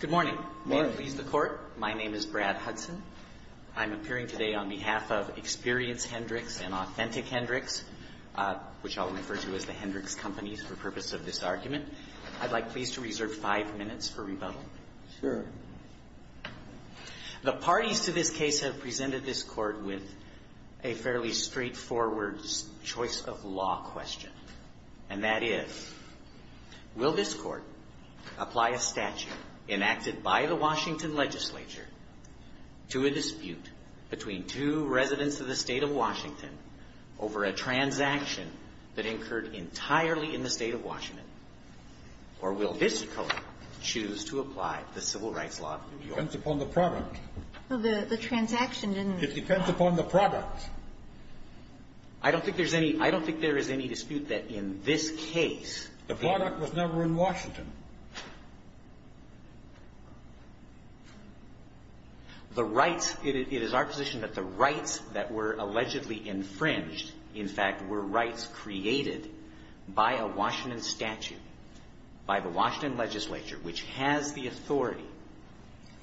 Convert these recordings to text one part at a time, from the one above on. Good morning. May it please the Court, my name is Brad Hudson. I'm appearing today on behalf of Experience Hendrix and Authentic Hendrix, which I'll refer to as the Hendrix Companies for purpose of this argument. I'd like, please, to reserve five minutes for rebuttal. The parties to this case have presented this Court with a fairly straightforward choice of law question, and that is, will this Court apply a statute enacted by the Washington legislature to a dispute between two residents of the State of Washington over a transaction that incurred entirely in the State of Washington, or will this Court choose to apply the civil rights law of New York? It depends upon the product. Well, the transaction didn't… It depends upon the product. I don't think there's any – I don't think there is any dispute that in this case The product was never in Washington. The rights – it is our position that the rights that were allegedly infringed, in fact, were rights created by a Washington statute, by the Washington legislature, which has the authority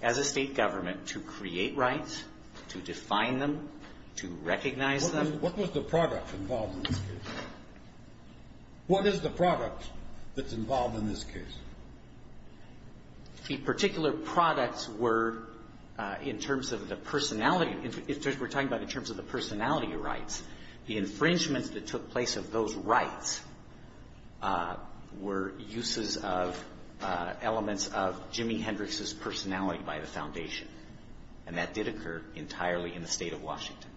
as a State government to create rights, to define them, to recognize them. What was the product involved in this case? What is the product that's involved in this case? The particular products were in terms of the personality – we're talking about in terms of the personality rights. The infringements that took place of those rights were uses of elements of Jimi Hendrix's personality by the Foundation, and that did occur entirely in the State of Washington.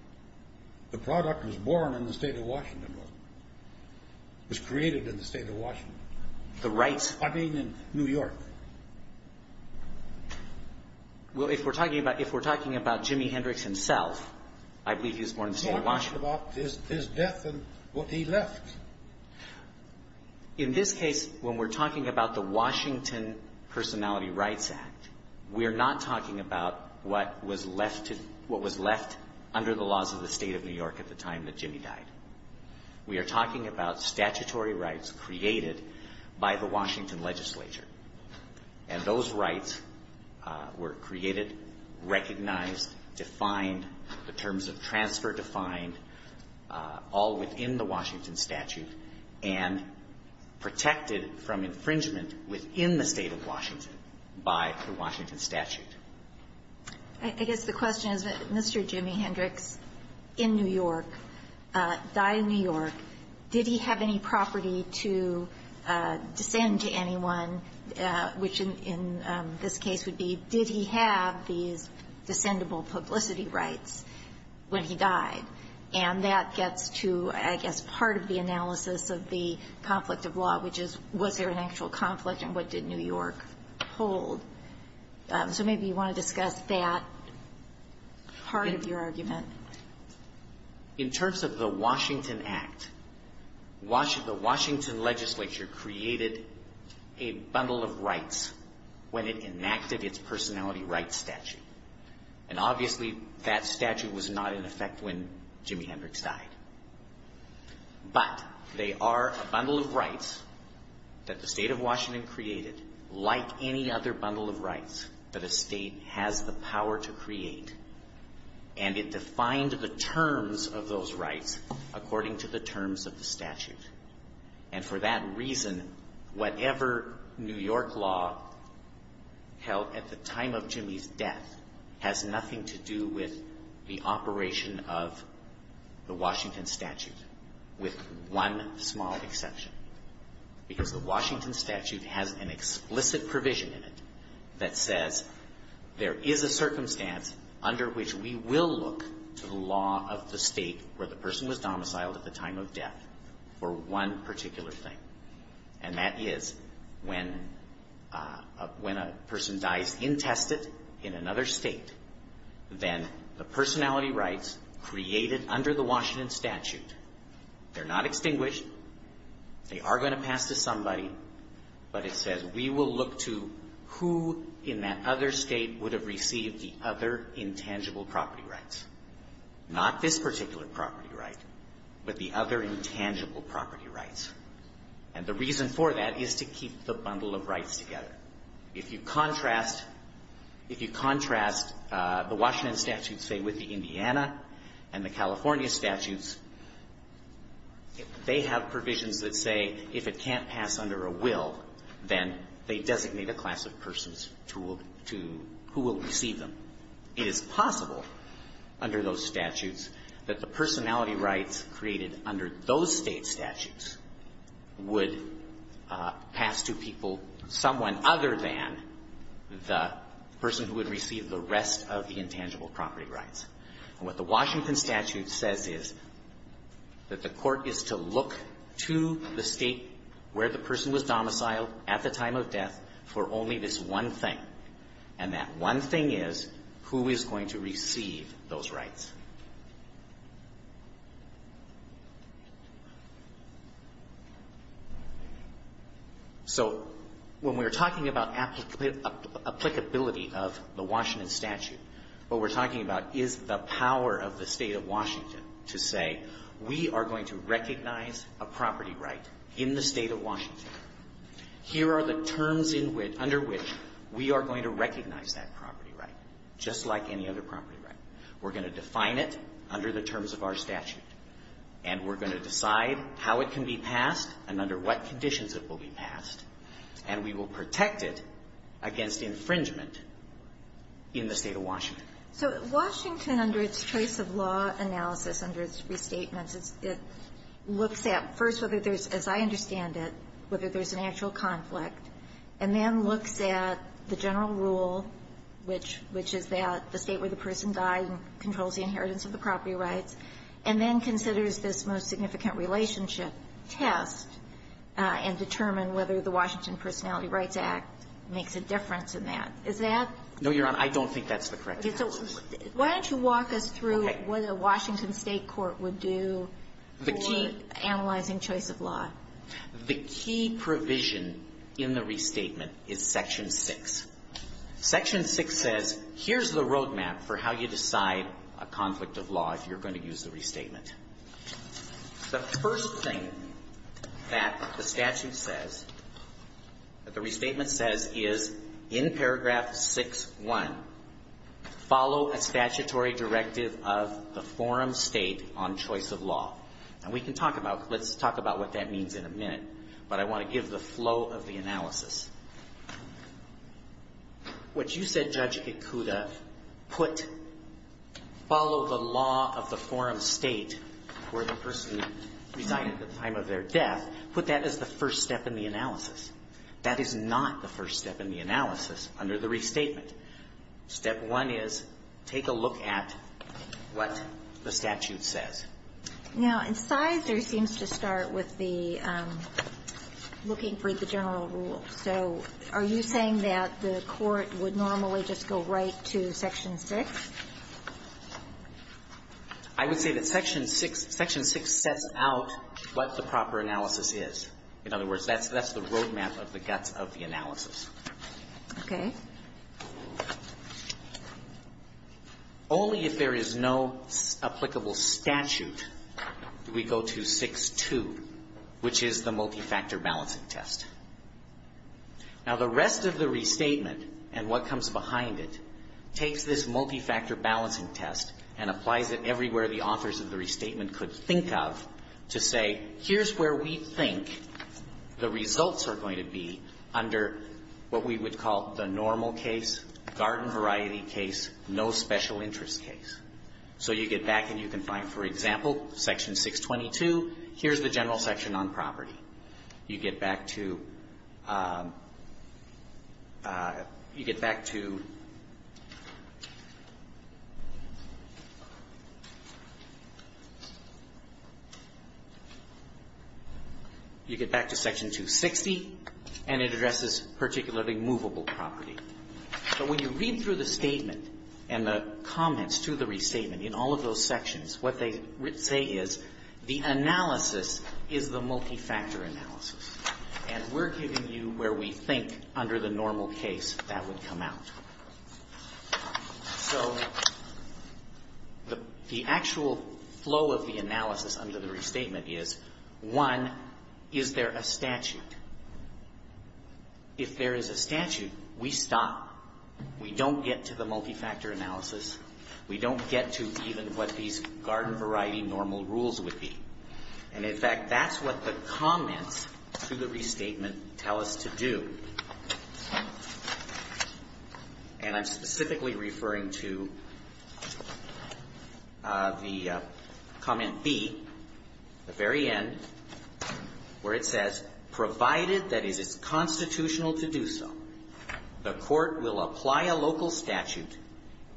The product was born in the State of Washington. It was created in the State of Washington. The rights… I mean, in New York. Well, if we're talking about – if we're talking about Jimi Hendrix himself, I believe he was born in the State of Washington. We're talking about his death and what he left. In this case, when we're talking about the Washington Personality Rights Act, we are not talking about what was left under the laws of the State of New York at the time that Jimi died. We are talking about statutory rights created by the Washington legislature, and those rights were created, recognized, defined, the terms of transfer defined, all within the Washington statute, and protected from infringement within the State of Washington by the Washington statute. I guess the question is, Mr. Jimi Hendrix, in New York, died in New York. Did he have any property to descend to anyone, which in this case would be, did he have these descendable publicity rights when he died? And that gets to, I guess, part of the analysis of the conflict of law, which is, was there an actual conflict and what did New York hold? So maybe you want to discuss that part of your argument. In terms of the Washington Act, the Washington legislature created a bundle of rights when it enacted its personality rights statute, and obviously that statute was not in effect when Jimi Hendrix died. But they are a bundle of rights that the State of Washington created, like any other bundle of rights that a state has the power to create, and it defined the terms of those rights according to the terms of the statute. And for that reason, whatever New York law held at the time of Jimi's death has nothing to do with the operation of the Washington statute, with one small exception. Because the Washington statute has an explicit provision in it that says there is a circumstance under which we will look to the law of the State where the person was domiciled at the time of death for one particular thing. And that is when a person dies intested in another state, then the personality rights created under the Washington statute, they're not extinguished, they are going to pass to somebody, but it says we will look to who in that other state would have received the other intangible property rights. Not this particular property right, but the other intangible property rights. And the reason for that is to keep the bundle of rights together. If you contrast the Washington statute, say, with the Indiana and the California statutes, they have provisions that say if it can't pass under a will, then they designate a class of persons who will receive them. It is possible under those statutes that the personality rights created under those State statutes would pass to people, someone other than the person who would receive the rest of the intangible property rights. And what the Washington statute says is that the Court is to look to the State where the person was domiciled at the time of death for only this one thing, and that one thing is who is going to receive those rights. So when we're talking about applicability of the Washington statute, what we're talking about is the power of the State of Washington to say we are going to recognize a property right in the State of Washington. Here are the terms under which we are going to recognize that property right, just like any other property right. We're going to define it under the terms of our statute, and we're going to decide how it can be passed and under what conditions it will be passed. And we will protect it against infringement in the State of Washington. So Washington, under its choice of law analysis, under its restatements, it looks at, first, whether there's, as I understand it, whether there's an actual inheritance of the property rights, and then considers this most significant relationship test and determine whether the Washington Personality Rights Act makes a difference in that. Is that? No, Your Honor. I don't think that's the correct answer. Okay. So why don't you walk us through what a Washington State court would do for analyzing choice of law. The key provision in the restatement is Section 6. Section 6 says, here's the roadmap for how you decide a conflict of law if you're going to use the restatement. The first thing that the statute says, that the restatement says, is in paragraph 6.1, follow a statutory directive of the forum State on choice of law. And we can talk about it. Let's talk about what that means in a minute. But I want to give the flow of the analysis. What you said, Judge Ikuda, put, follow the law of the forum State where the person resided at the time of their death, put that as the first step in the analysis. That is not the first step in the analysis under the restatement. Step one is take a look at what the statute says. Now, in size, there seems to start with the looking for the general rule. So are you saying that the court would normally just go right to Section 6? I would say that Section 6, Section 6 sets out what the proper analysis is. In other words, that's the roadmap of the guts of the analysis. Okay. Only if there is no applicable statute do we go to 6.2, which is the multifactor balancing test. Now, the rest of the restatement and what comes behind it takes this multifactor balancing test and applies it everywhere the authors of the restatement could think of to say, here's where we think the results are going to be under what we would call the normal case, garden variety case, no special interest case. So you get back and you can find, for example, Section 622, here's the general section on property. You get back to you get back to Section 260, and it addresses particularly movable property. But when you read through the statement and the comments to the restatement in all of those sections, what they say is the analysis is the multifactor analysis. And we're giving you where we think under the normal case that would come out. So the actual flow of the analysis under the restatement is, one, is there a statute? If there is a statute, we stop. We don't get to the multifactor analysis. We don't get to even what these garden variety normal rules would be. And in fact, that's what the comments to the restatement tell us to do. And I'm specifically referring to the comment B, the very end, where it says, provided that it is constitutional to do so, the court will apply a local statute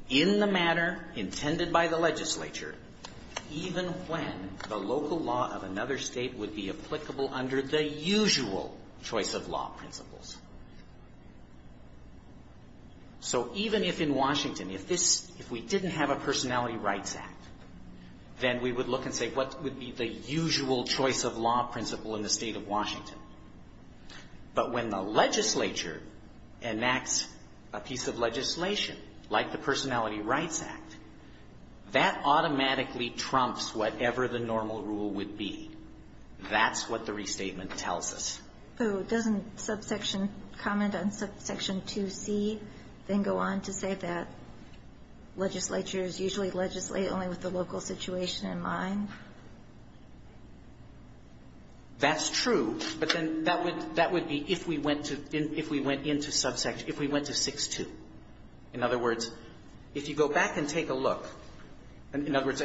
in the manner intended by the legislature, even when the local law of another state would be applicable under the usual choice of law principles. So even if in Washington, if this if we didn't have a Personality Rights Act, then we would look and say, what would be the usual choice of law principle in the State of Washington? But when the legislature enacts a piece of legislation like the Personality Rights Act, that automatically trumps whatever the normal rule would be. That's what the restatement tells us. So doesn't subsection comment on subsection 2C then go on to say that legislatures usually legislate only with the local situation in mind? That's true. But then that would be if we went to 6.2. In other words, if you go back and take a look, in other words,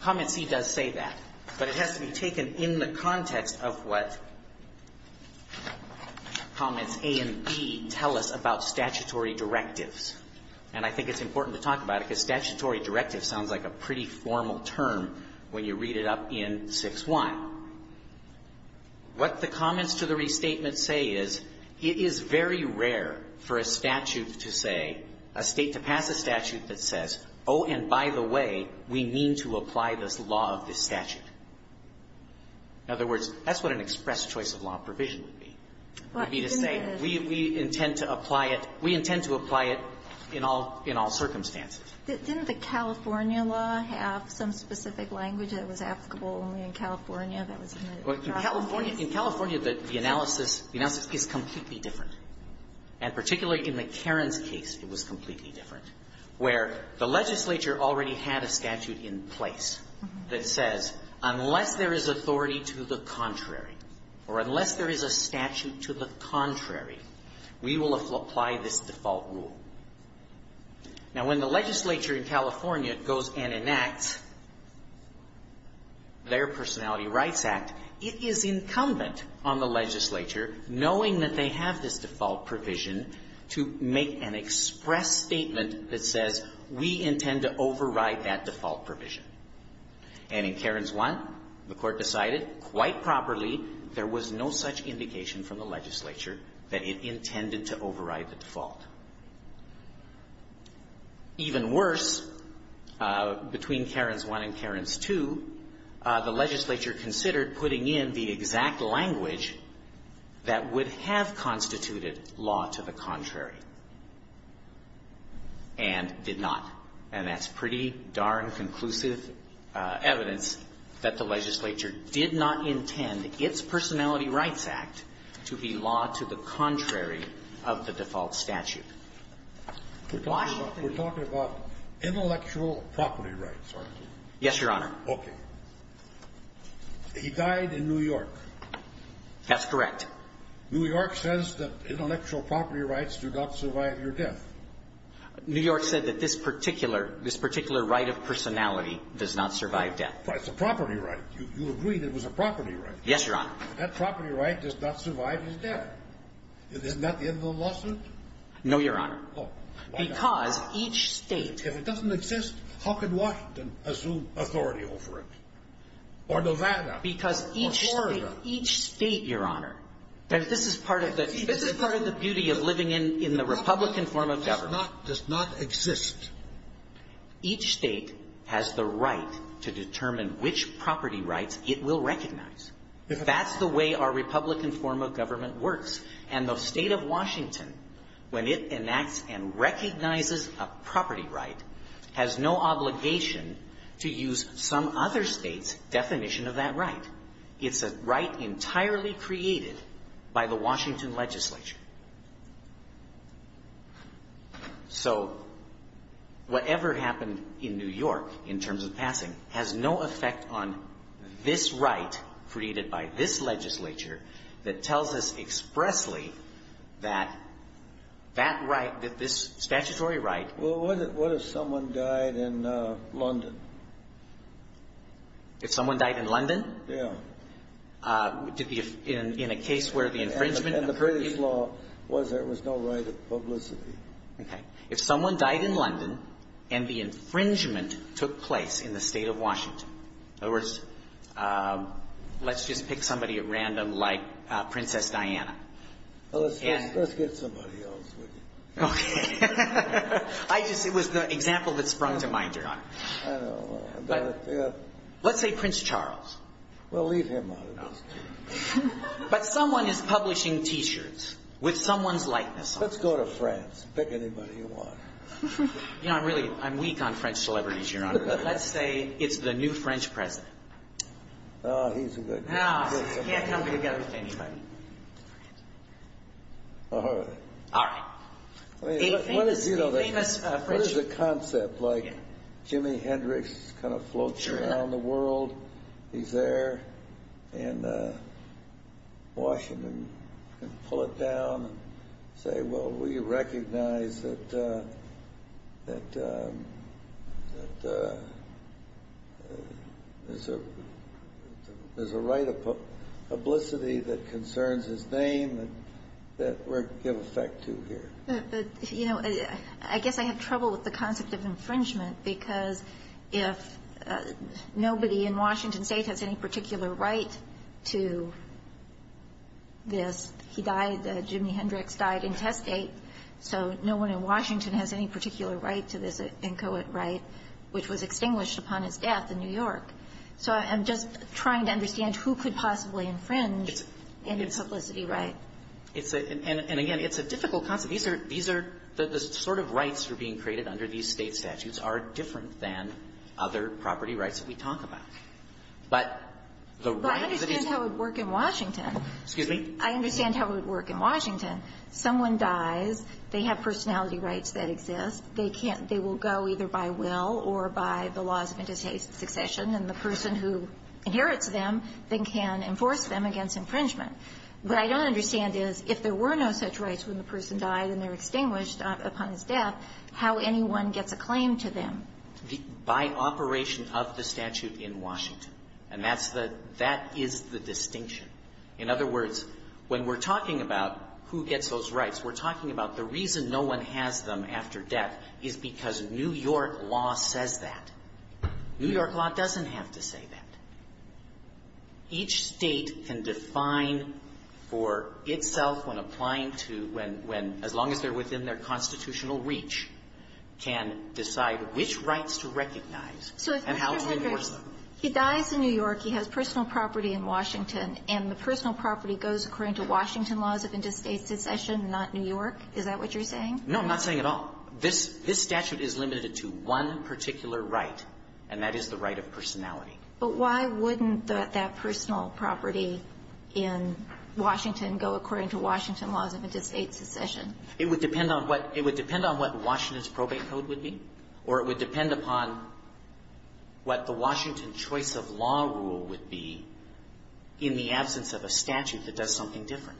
comment C does say that, but it has to be taken in the context of what comments A and B tell us about statutory directives. And I think it's important to talk about it because statutory directive sounds like a pretty formal term when you read it up in 6.1. What the comments to the restatement say is, it is very rare for a statute to say, a State to pass a statute that says, oh, and by the way, we mean to apply this law of this statute. In other words, that's what an express choice of law provision would be. It would be to say, we intend to apply it. We intend to apply it in all circumstances. Didn't the California law have some specific language that was applicable only in California that was in the draft case? In California, the analysis is completely different. And particularly in the Karens case, it was completely different, where the legislature already had a statute in place that says, unless there is authority to the contrary, or unless there is a statute to the contrary, we will apply this default rule. Now, when the legislature in California goes and enacts their Personality Rights Act, it is incumbent on the legislature, knowing that they have this default provision, to make an express statement that says, we intend to override that default provision. And in Karens 1, the Court decided quite properly there was no such indication from the legislature that it intended to override the default. Even worse, between Karens 1 and Karens 2, the legislature considered putting in the exact language that would have constituted law to the contrary and did not. And that's pretty darn conclusive evidence that the legislature did not intend its Personality Rights Act to be law to the contrary of the default statute. We're talking about intellectual property rights, aren't we? Yes, Your Honor. Okay. He died in New York. That's correct. New York says that intellectual property rights do not survive your death. New York said that this particular right of personality does not survive death. But it's a property right. You agree that it was a property right. Yes, Your Honor. That property right does not survive his death. Isn't that the end of the lawsuit? No, Your Honor. Oh. Why not? Because each state If it doesn't exist, how could Washington assume authority over it? Or Nevada? Because each state Or Florida? Each state, Your Honor. This is part of the beauty of living in the Republican form of government. It does not exist. Each state has the right to determine which property rights it will recognize. That's the way our Republican form of government works. And the State of Washington, when it enacts and recognizes a property right, has no obligation to use some other State's definition of that right. It's a right entirely created by the Washington legislature. So whatever happened in New York, in terms of passing, has no effect on this right created by this legislature that tells us expressly that that right, that this statutory right Well, what if someone died in London? If someone died in London? Yeah. In a case where the infringement of And the British law was there was no right of publicity. Okay. If someone died in London and the infringement took place in the State of Washington In other words, let's just pick somebody at random like Princess Diana. Let's get somebody else. Okay. It was the example that sprung to mind, Your Honor. I know. Let's say Prince Charles. Well, leave him out of this. But someone is publishing T-shirts with someone's likeness on them. Let's go to France. Pick anybody you want. You know, I'm weak on French celebrities, Your Honor. But let's say it's the new French president. Oh, he's a good guy. He can't come together with anybody. All right. All right. What is the concept? Like Jimi Hendrix kind of floats around the world. He's there in Washington. You can pull it down and say, well, we recognize that there's a right of publicity that concerns his name that we're to give effect to here. But, you know, I guess I have trouble with the concept of infringement, because if nobody in Washington State has any particular right to this, he died, Jimi Hendrix died intestate, so no one in Washington has any particular right to this inchoate right, which was extinguished upon his death in New York. So I'm just trying to understand who could possibly infringe any publicity right. And, again, it's a difficult concept. These are the sort of rights that are being created under these State statutes are different than other property rights that we talk about. But the right is that he's going to be able to do it. But I understand how it would work in Washington. Excuse me? I understand how it would work in Washington. Someone dies. They have personality rights that exist. They can't go either by will or by the laws of interstate succession. And the person who inherits them, they can enforce them against infringement. What I don't understand is if there were no such rights when the person died and they're extinguished upon his death, how anyone gets a claim to them. By operation of the statute in Washington. And that's the – that is the distinction. In other words, when we're talking about who gets those rights, we're talking about the reason no one has them after death is because New York law says that. New York law doesn't have to say that. Each State can define for itself when applying to when – when, as long as they're within their constitutional reach, can decide which rights to recognize and how to So if Mr. Hendricks, he dies in New York, he has personal property in Washington, and the personal property goes according to Washington laws of interstate succession and not New York, is that what you're saying? No, I'm not saying at all. This – this statute is limited to one particular right, and that is the right of personality. But why wouldn't that personal property in Washington go according to Washington laws of interstate succession? It would depend on what – it would depend on what Washington's probate code would be, or it would depend upon what the Washington choice of law rule would be in the absence of a statute that does something different.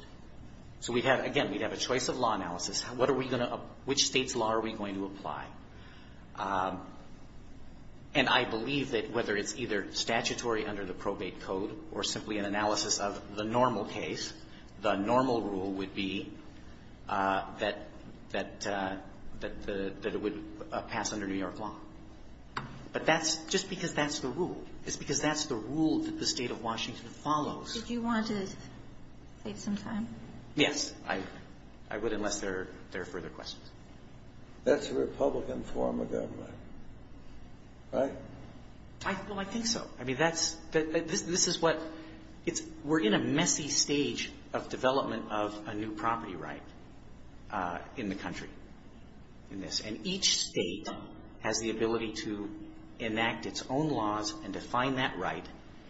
So we'd have – again, we'd have a choice of law analysis. What are we going to – which State's law are we going to apply? And I believe that whether it's either statutory under the probate code or simply an analysis of the normal case, the normal rule would be that – that the – that it would pass under New York law. But that's – just because that's the rule. It's because that's the rule that the State of Washington follows. Did you want to take some time? Yes, I would, unless there are further questions. That's a Republican form of government, right? Well, I think so. I mean, that's – this is what – it's – we're in a messy stage of development of a new property right in the country in this. And each State has the ability to enact its own laws and define that right,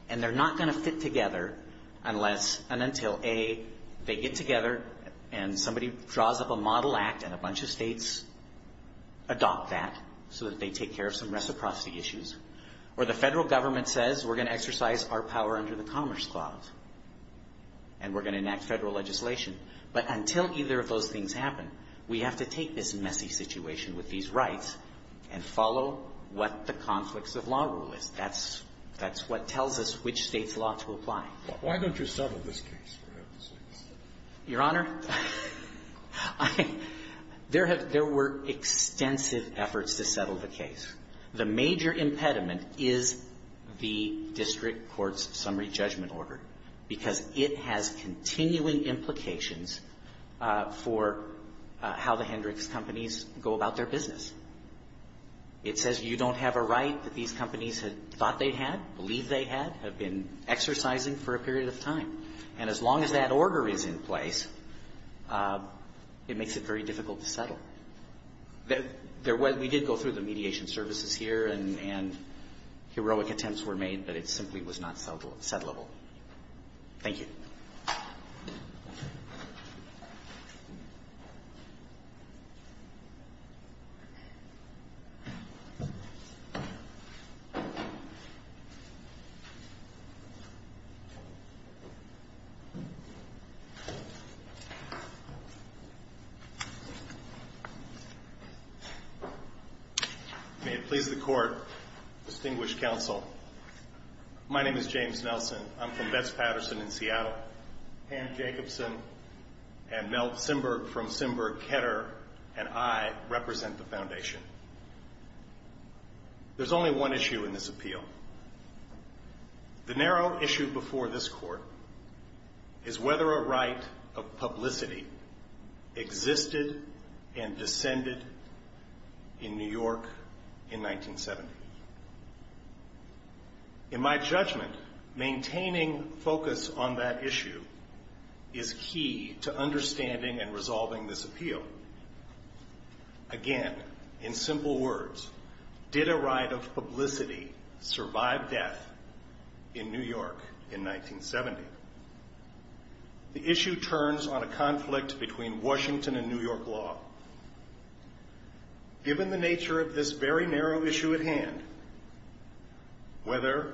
and they're not going to fit together unless and until, A, they get together and somebody draws up a model act and a bunch of States adopt that so that they take care of some reciprocity issues, or the federal government says we're going to exercise our power under the Commerce Clause and we're going to enact federal legislation. But until either of those things happen, we have to take this messy situation with these rights and follow what the conflicts of law rule is. That's – that's what tells us which State's law to apply. Why don't you settle this case? Your Honor, there have – there were extensive efforts to settle the case. The major impediment is the district court's summary judgment order, because it has continuing implications for how the Hendricks companies go about their business. It says you don't have a right that these companies had thought they had, believed they had, have been exercising for a period of time. And as long as that order is in place, it makes it very difficult to settle. There was – we did go through the mediation services here, and heroic attempts were made, but it simply was not settleable. Thank you. May it please the Court, Distinguished Counsel, my name is James Nelson. I'm from Betz Patterson in Seattle. Ann Jacobson and Mel Simberg from Simberg-Ketter and I represent the Foundation. There's only one issue in this appeal. The narrow issue before this Court is whether a right of publicity existed and descended in New York in 1970. In my judgment, maintaining focus on that issue is key to understanding and resolving this appeal. Again, in simple words, did a right of publicity survive death in New York in 1970? The issue turns on a conflict between Washington and New York law. Given the nature of this very narrow issue at hand, whether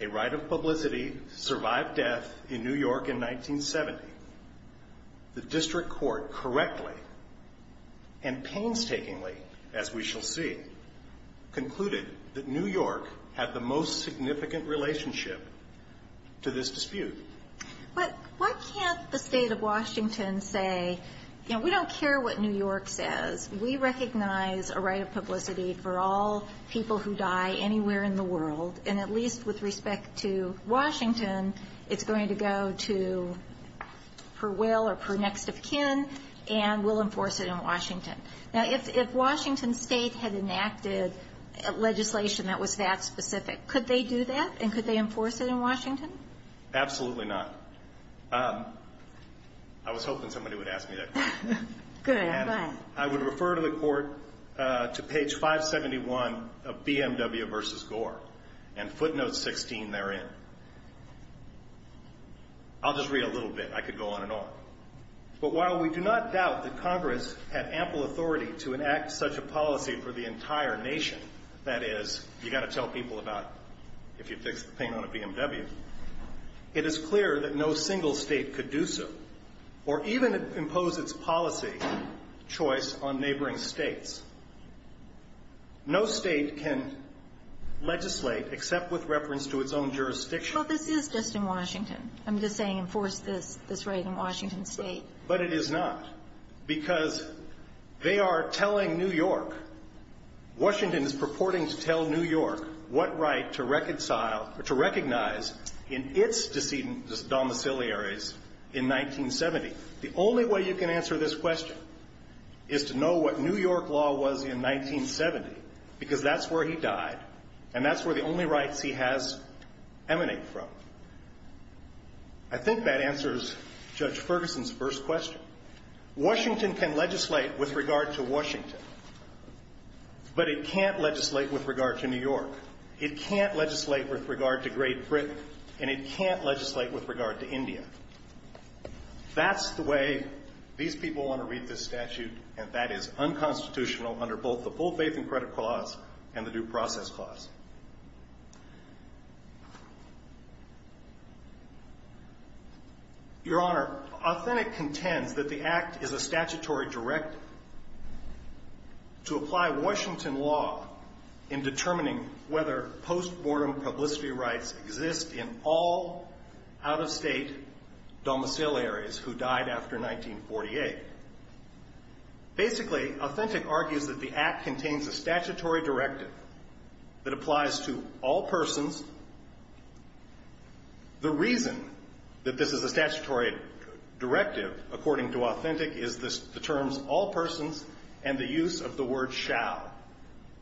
a right of publicity survived death in New York in 1970, the District Court correctly and painstakingly, as we shall see, concluded that New York had the most significant relationship to this dispute. But why can't the State of Washington say, you know, we don't care what New York says. We recognize a right of publicity for all people who die anywhere in the world, and at least with respect to Washington, it's going to go to per will or per next of kin, and we'll enforce it in Washington. Now, if Washington State had enacted legislation that was that specific, could they do that and could they enforce it in Washington? Absolutely not. I was hoping somebody would ask me that question. Good. Go ahead. I would refer to the Court to page 571 of BMW v. Gore and footnote 16 therein. I'll just read a little bit. I could go on and on. But while we do not doubt that Congress had ample authority to enact such a policy for the entire nation, that is, you've got to tell people about if you fix the paint on a BMW, it is clear that no single State could do so, or even impose its policy choice on neighboring States. No State can legislate except with reference to its own jurisdiction. Well, this is just in Washington. I'm just saying enforce this right in Washington State. But it is not, because they are telling New York, Washington is purporting to tell New York what right to recognize in its domiciliaries in 1970. The only way you can answer this question is to know what New York law was in 1970, because that's where he died and that's where the only rights he has emanate from. I think that answers Judge Ferguson's first question. Washington can legislate with regard to Washington, but it can't legislate with regard to New York. It can't legislate with regard to Great Britain, and it can't legislate with regard to India. That's the way these people want to read this statute, and that is unconstitutional under both the full faith and credit clause and the due process clause. Your Honor, Authentic contends that the Act is a statutory directive to apply Washington law in determining whether post-mortem publicity rights exist in all out-of-state domiciliaries who died after 1948. Basically, Authentic argues that the Act contains a statutory directive that applies to all persons. The reason that this is a statutory directive, according to Authentic, is the terms all persons and the use of the word shall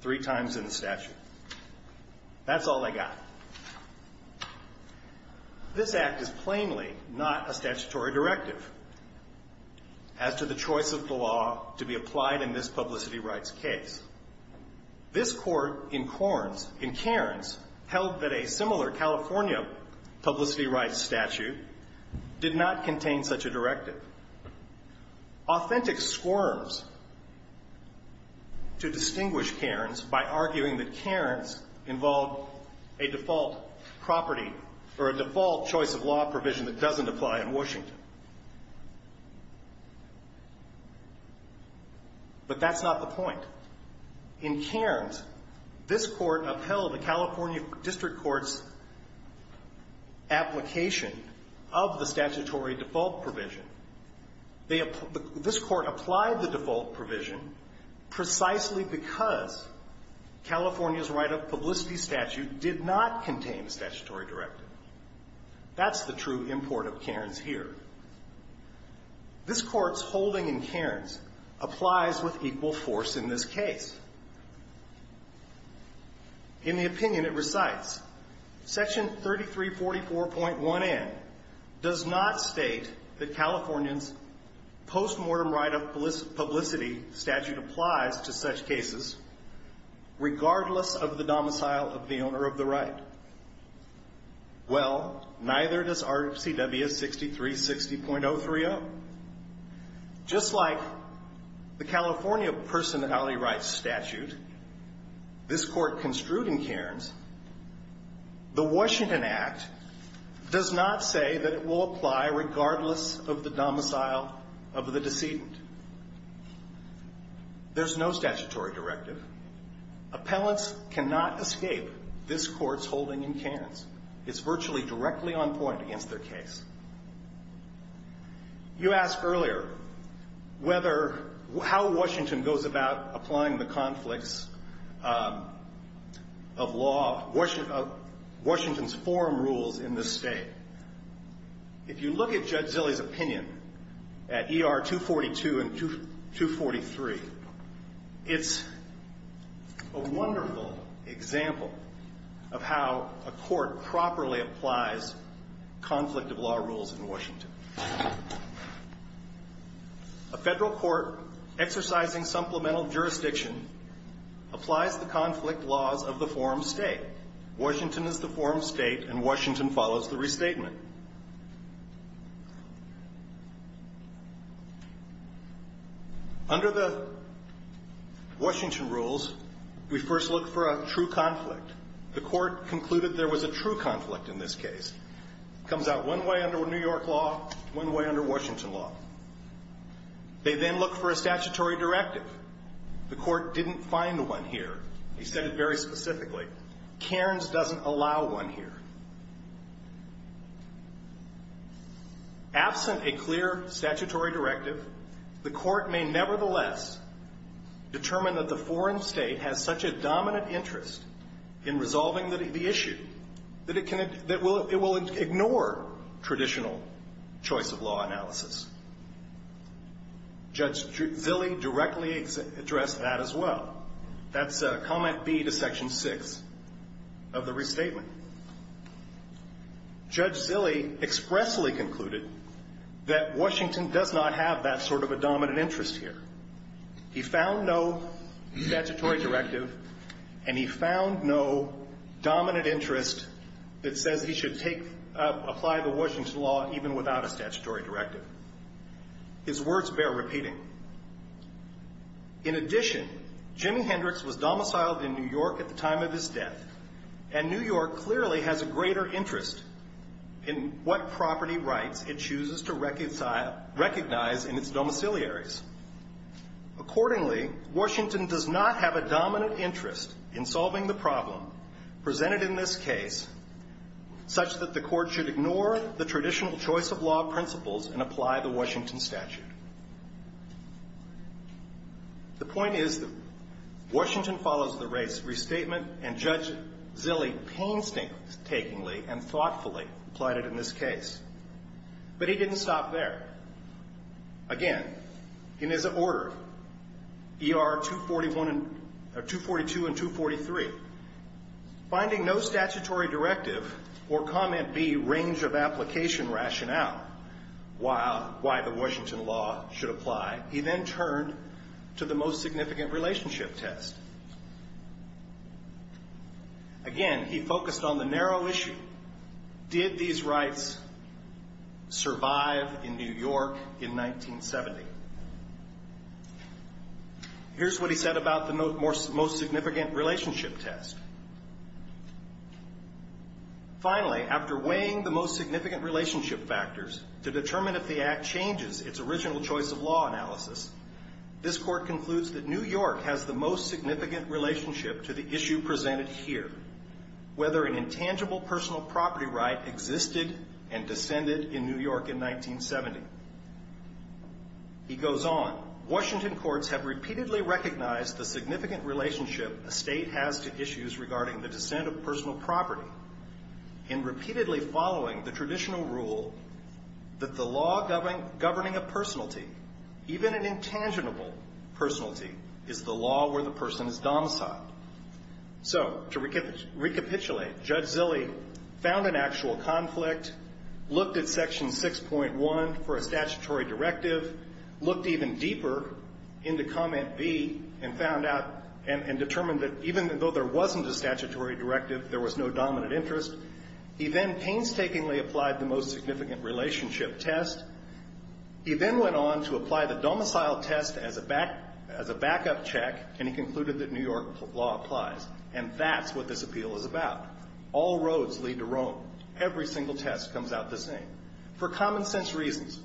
three times in the statute. That's all I got. This Act is plainly not a statutory directive as to the choice of the law to be applied in this publicity rights case. This Court in Corns, in Cairns, held that a similar California publicity rights statute did not contain such a directive. Authentic squirms to distinguish Cairns by arguing that Cairns involved a default property or a default choice of law provision that doesn't apply in Washington. But that's not the point. In Cairns, this Court upheld a California district court's application of the statutory default provision. This Court applied the default provision precisely because California's right of publicity statute did not contain a statutory directive. That's the true import of Cairns here. This Court's holding in Cairns applies with equal force in this case. In the opinion, it recites, Section 3344.1N does not state that California's postmortem right of publicity statute applies to such cases regardless of the domicile of the owner of the right. Well, neither does RCWS 6360.030. Just like the California personality rights statute, this Court construed in Cairns, the Washington Act does not say that it will apply regardless of the domicile of the decedent. There's no statutory directive. Appellants cannot escape this Court's holding in Cairns. It's virtually directly on point against their case. You asked earlier whether — how Washington goes about applying the conflicts of law — Washington's forum rules in this state. If you look at Judge Zilley's opinion at ER 242 and 243, it's, you know, a wonderful example of how a court properly applies conflict of law rules in Washington. A federal court exercising supplemental jurisdiction applies the conflict laws of the forum state. Washington is the forum state, and Washington follows the restatement. Under the Washington rules, we first look for a true conflict. The Court concluded there was a true conflict in this case. It comes out one way under New York law, one way under Washington law. They then look for a statutory directive. The Court didn't find one here. He said it very specifically. Cairns doesn't allow one here. Absent a clear statutory directive, the Court may nevertheless determine that the forum state has such a dominant interest in resolving the issue that it will ignore traditional choice of law analysis. Judge Zilley directly addressed that as well. That's Comment B to Section 6 of the restatement. Judge Zilley expressly concluded that Washington does not have that sort of a dominant interest here. He found no statutory directive, and he found no dominant interest that says he should apply the Washington law even without a statutory directive. His words bear repeating. In addition, Jimi Hendrix was domiciled in New York at the time of his death, and New York clearly has a greater interest in what property rights it chooses to recognize in its domiciliaries. Accordingly, Washington does not have a dominant interest in solving the problem presented in this case such that the Court should ignore the traditional choice of law principles and apply the Washington statute. The point is that Washington follows the race restatement, and Judge Zilley painstakingly and thoughtfully applied it in this case. But he didn't stop there. Again, in his order, ER 242 and 243, finding no statutory directive or Comment B range of application rationale why the Washington law should apply, he then turned to the most significant relationship test. Again, he focused on the narrow issue. Did these rights survive in New York in 1970? Here's what he said about the most significant relationship test. Finally, after weighing the most significant relationship factors to determine if the Act changes its original choice of law analysis, this Court concludes that New York has the most significant relationship to the issue presented here, whether an intangible personal property right existed and descended in New York in 1970. He goes on, Washington courts have repeatedly recognized the significant relationship a state has to issues regarding the descent of personal property in repeatedly following the traditional rule that the law governing a personality, even an intangible personality, is the law where the person is domiciled. So to recapitulate, Judge Zilley found an actual conflict, looked at Section 6.1 for a statutory directive, looked even deeper into Comment B and found out and determined that even though there wasn't a statutory directive, there was no dominant interest. He then painstakingly applied the most significant relationship test. He then went on to apply the domicile test as a backup check, and he concluded that New York law applies. And that's what this appeal is about. All roads lead to Rome. Every single test comes out the same. For common sense reasons,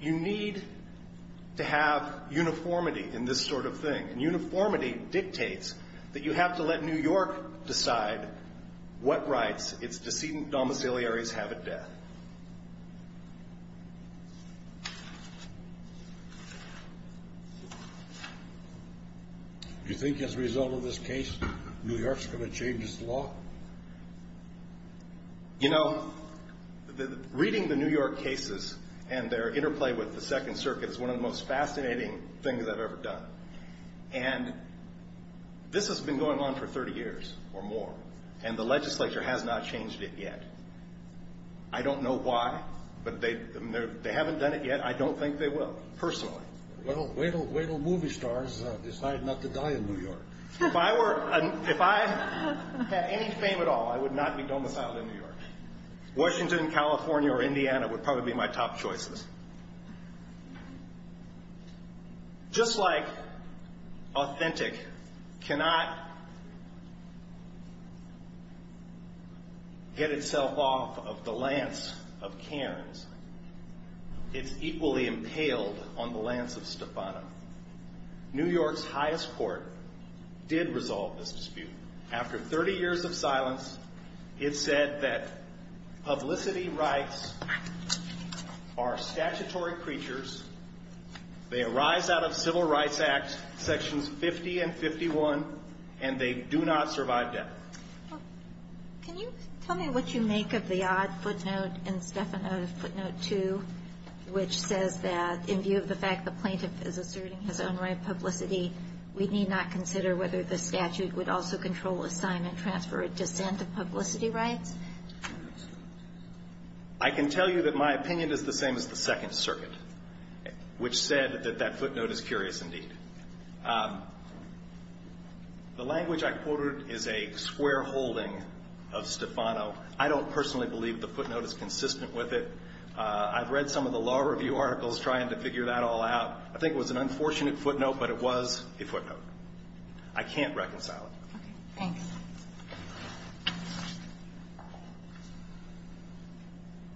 you need to have uniformity in this sort of thing, and uniformity dictates that you have to let New York decide what rights its decedent domiciliaries have at death. Do you think as a result of this case, New York's going to change its law? You know, reading the New York cases and their interplay with the Second Circuit is one of the most fascinating things I've ever done. And this has been going on for 30 years or more, and the legislature has not changed it yet. I don't know why, but they haven't done it yet. I don't think they will, personally. Well, wait till movie stars decide not to die in New York. If I had any fame at all, I would not be domiciled in New York. Washington, California, or Indiana would probably be my top choices. Just like authentic cannot get itself off of the lance of Cairns, it's equally impaled on the lance of Stefano. New York's highest court did resolve this dispute. After 30 years of silence, it said that publicity rights are statutory creatures. They arise out of Civil Rights Act Sections 50 and 51, and they do not survive death. Can you tell me what you make of the odd footnote in Stefano's footnote 2, which says that in view of the fact the plaintiff is asserting his own right of publicity, we need not consider whether the statute would also control assignment, transfer, or dissent of publicity rights? I can tell you that my opinion is the same as the Second Circuit, which said that that footnote is curious indeed. The language I quoted is a square holding of Stefano. I don't personally believe the footnote is consistent with it. I've read some of the law review articles trying to figure that all out. I think it was an unfortunate footnote, but it was a footnote. I can't reconcile it. Okay. Thanks.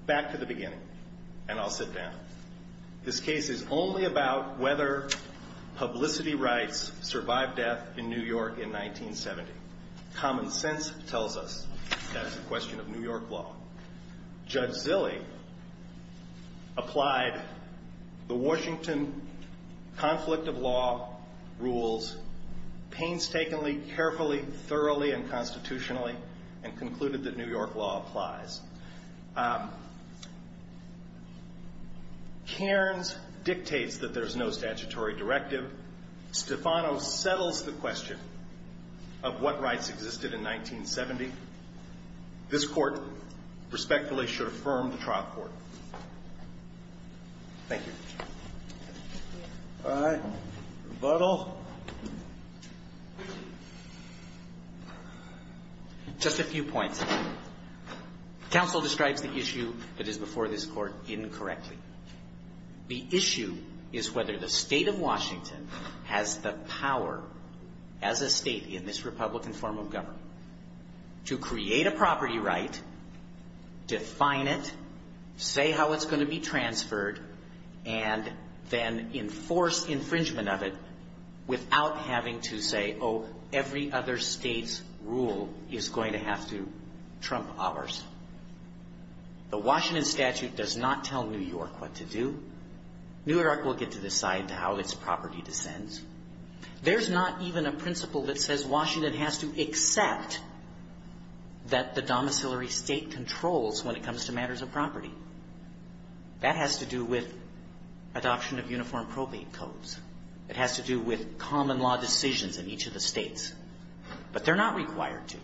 Back to the beginning, and I'll sit down. This case is only about whether publicity rights survived death in New York in 1970. Common sense tells us that's a question of New York law. Judge Zille applied the Washington conflict of law rules painstakingly, carefully, thoroughly, and constitutionally, and concluded that New York law applies. Cairns dictates that there's no statutory directive. Stefano settles the question of what rights existed in 1970. This Court respectfully should affirm the trial court. Thank you. All right. Rebuttal. Just a few points. The issue is whether the State of Washington has the power as a State in this Republican form of government. To create a property right, define it, say how it's going to be transferred, and then enforce infringement of it without having to say, oh, every other State's rule is going to have to trump ours. The Washington statute does not tell New York what to do. New York will get to decide how its property descends. There's not even a principle that says Washington has to accept that the domiciliary State controls when it comes to matters of property. That has to do with adoption of uniform probate codes. It has to do with common law decisions in each of the States. But they're not required to.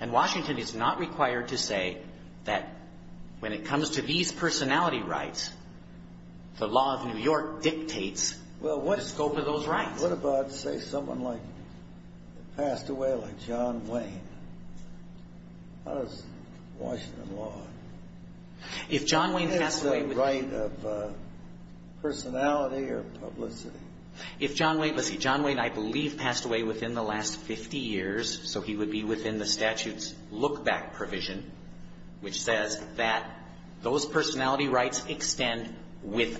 And Washington is not required to say that when it comes to these personality rights, the law of New York dictates the scope of those rights. Well, what about, say, someone like, passed away like John Wayne? How does Washington law? If John Wayne passed away within the last 50 years, so he would be within the statute's look-back provision, which says that those rights exist. See, when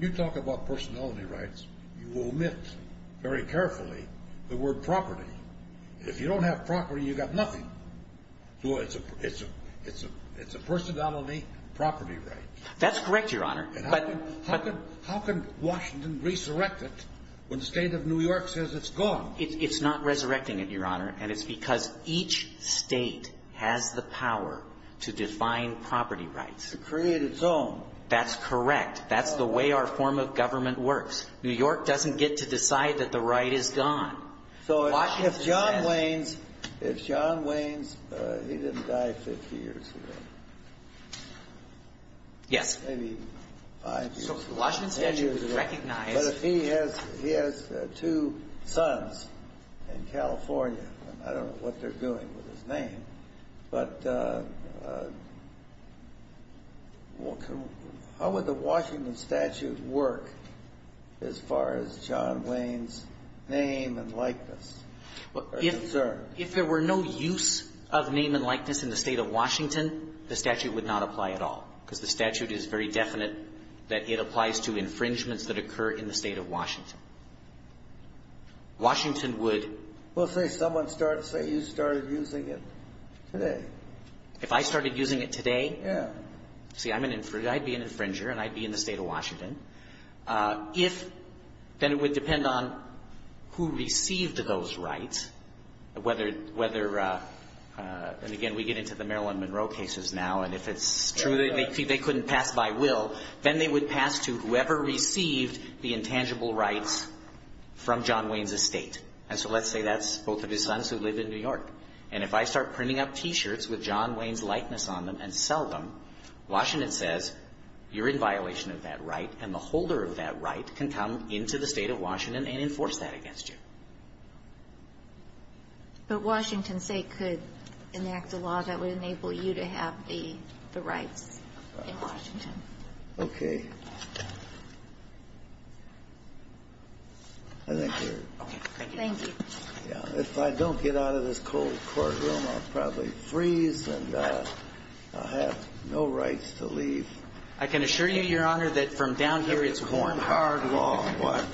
you talk about personality rights, you omit very carefully the word property. If you don't have property, you've got nothing. It's a personality property right. That's correct, Your Honor. How can Washington resurrect it when the State of New York says it's gone? It's not resurrecting it, Your Honor, and it's because each State has the power to define property rights. To create its own. That's correct. That's the way our form of government works. New York doesn't get to decide that the right is gone. So if John Wayne's, if John Wayne's, he didn't die 50 years ago. Yes. Maybe five years ago. Ten years ago. But if he has two sons in California, I don't know what they're doing with his name. But how would the Washington statute work as far as John Wayne's name and likeness are concerned? If there were no use of name and likeness in the State of Washington, the statute would not apply at all, because the statute is very definite that it applies to infringements that occur in the State of Washington. Washington would Well, say someone started, say you started using it today. If I started using it today? Yeah. See, I'd be an infringer and I'd be in the State of Washington. If, then it would depend on who received those rights, whether, and again, we get into the Marilyn Monroe cases now, and if it's true that they couldn't pass by will, then they would pass to whoever received the intangible rights from John Wayne's estate. And so let's say that's both of his sons who live in New York. And if I start printing up T-shirts with John Wayne's likeness on them and sell them, Washington says you're in violation of that right and the holder of that right can come into the State of Washington and enforce that against you. But Washington, say, could enact a law that would enable you to have the rights in Washington. Okay. Thank you. If I don't get out of this cold courtroom, I'll probably freeze and I'll have no rights to leave. I can assure you, Your Honor, that from down here it's warm. Warm, hard, long.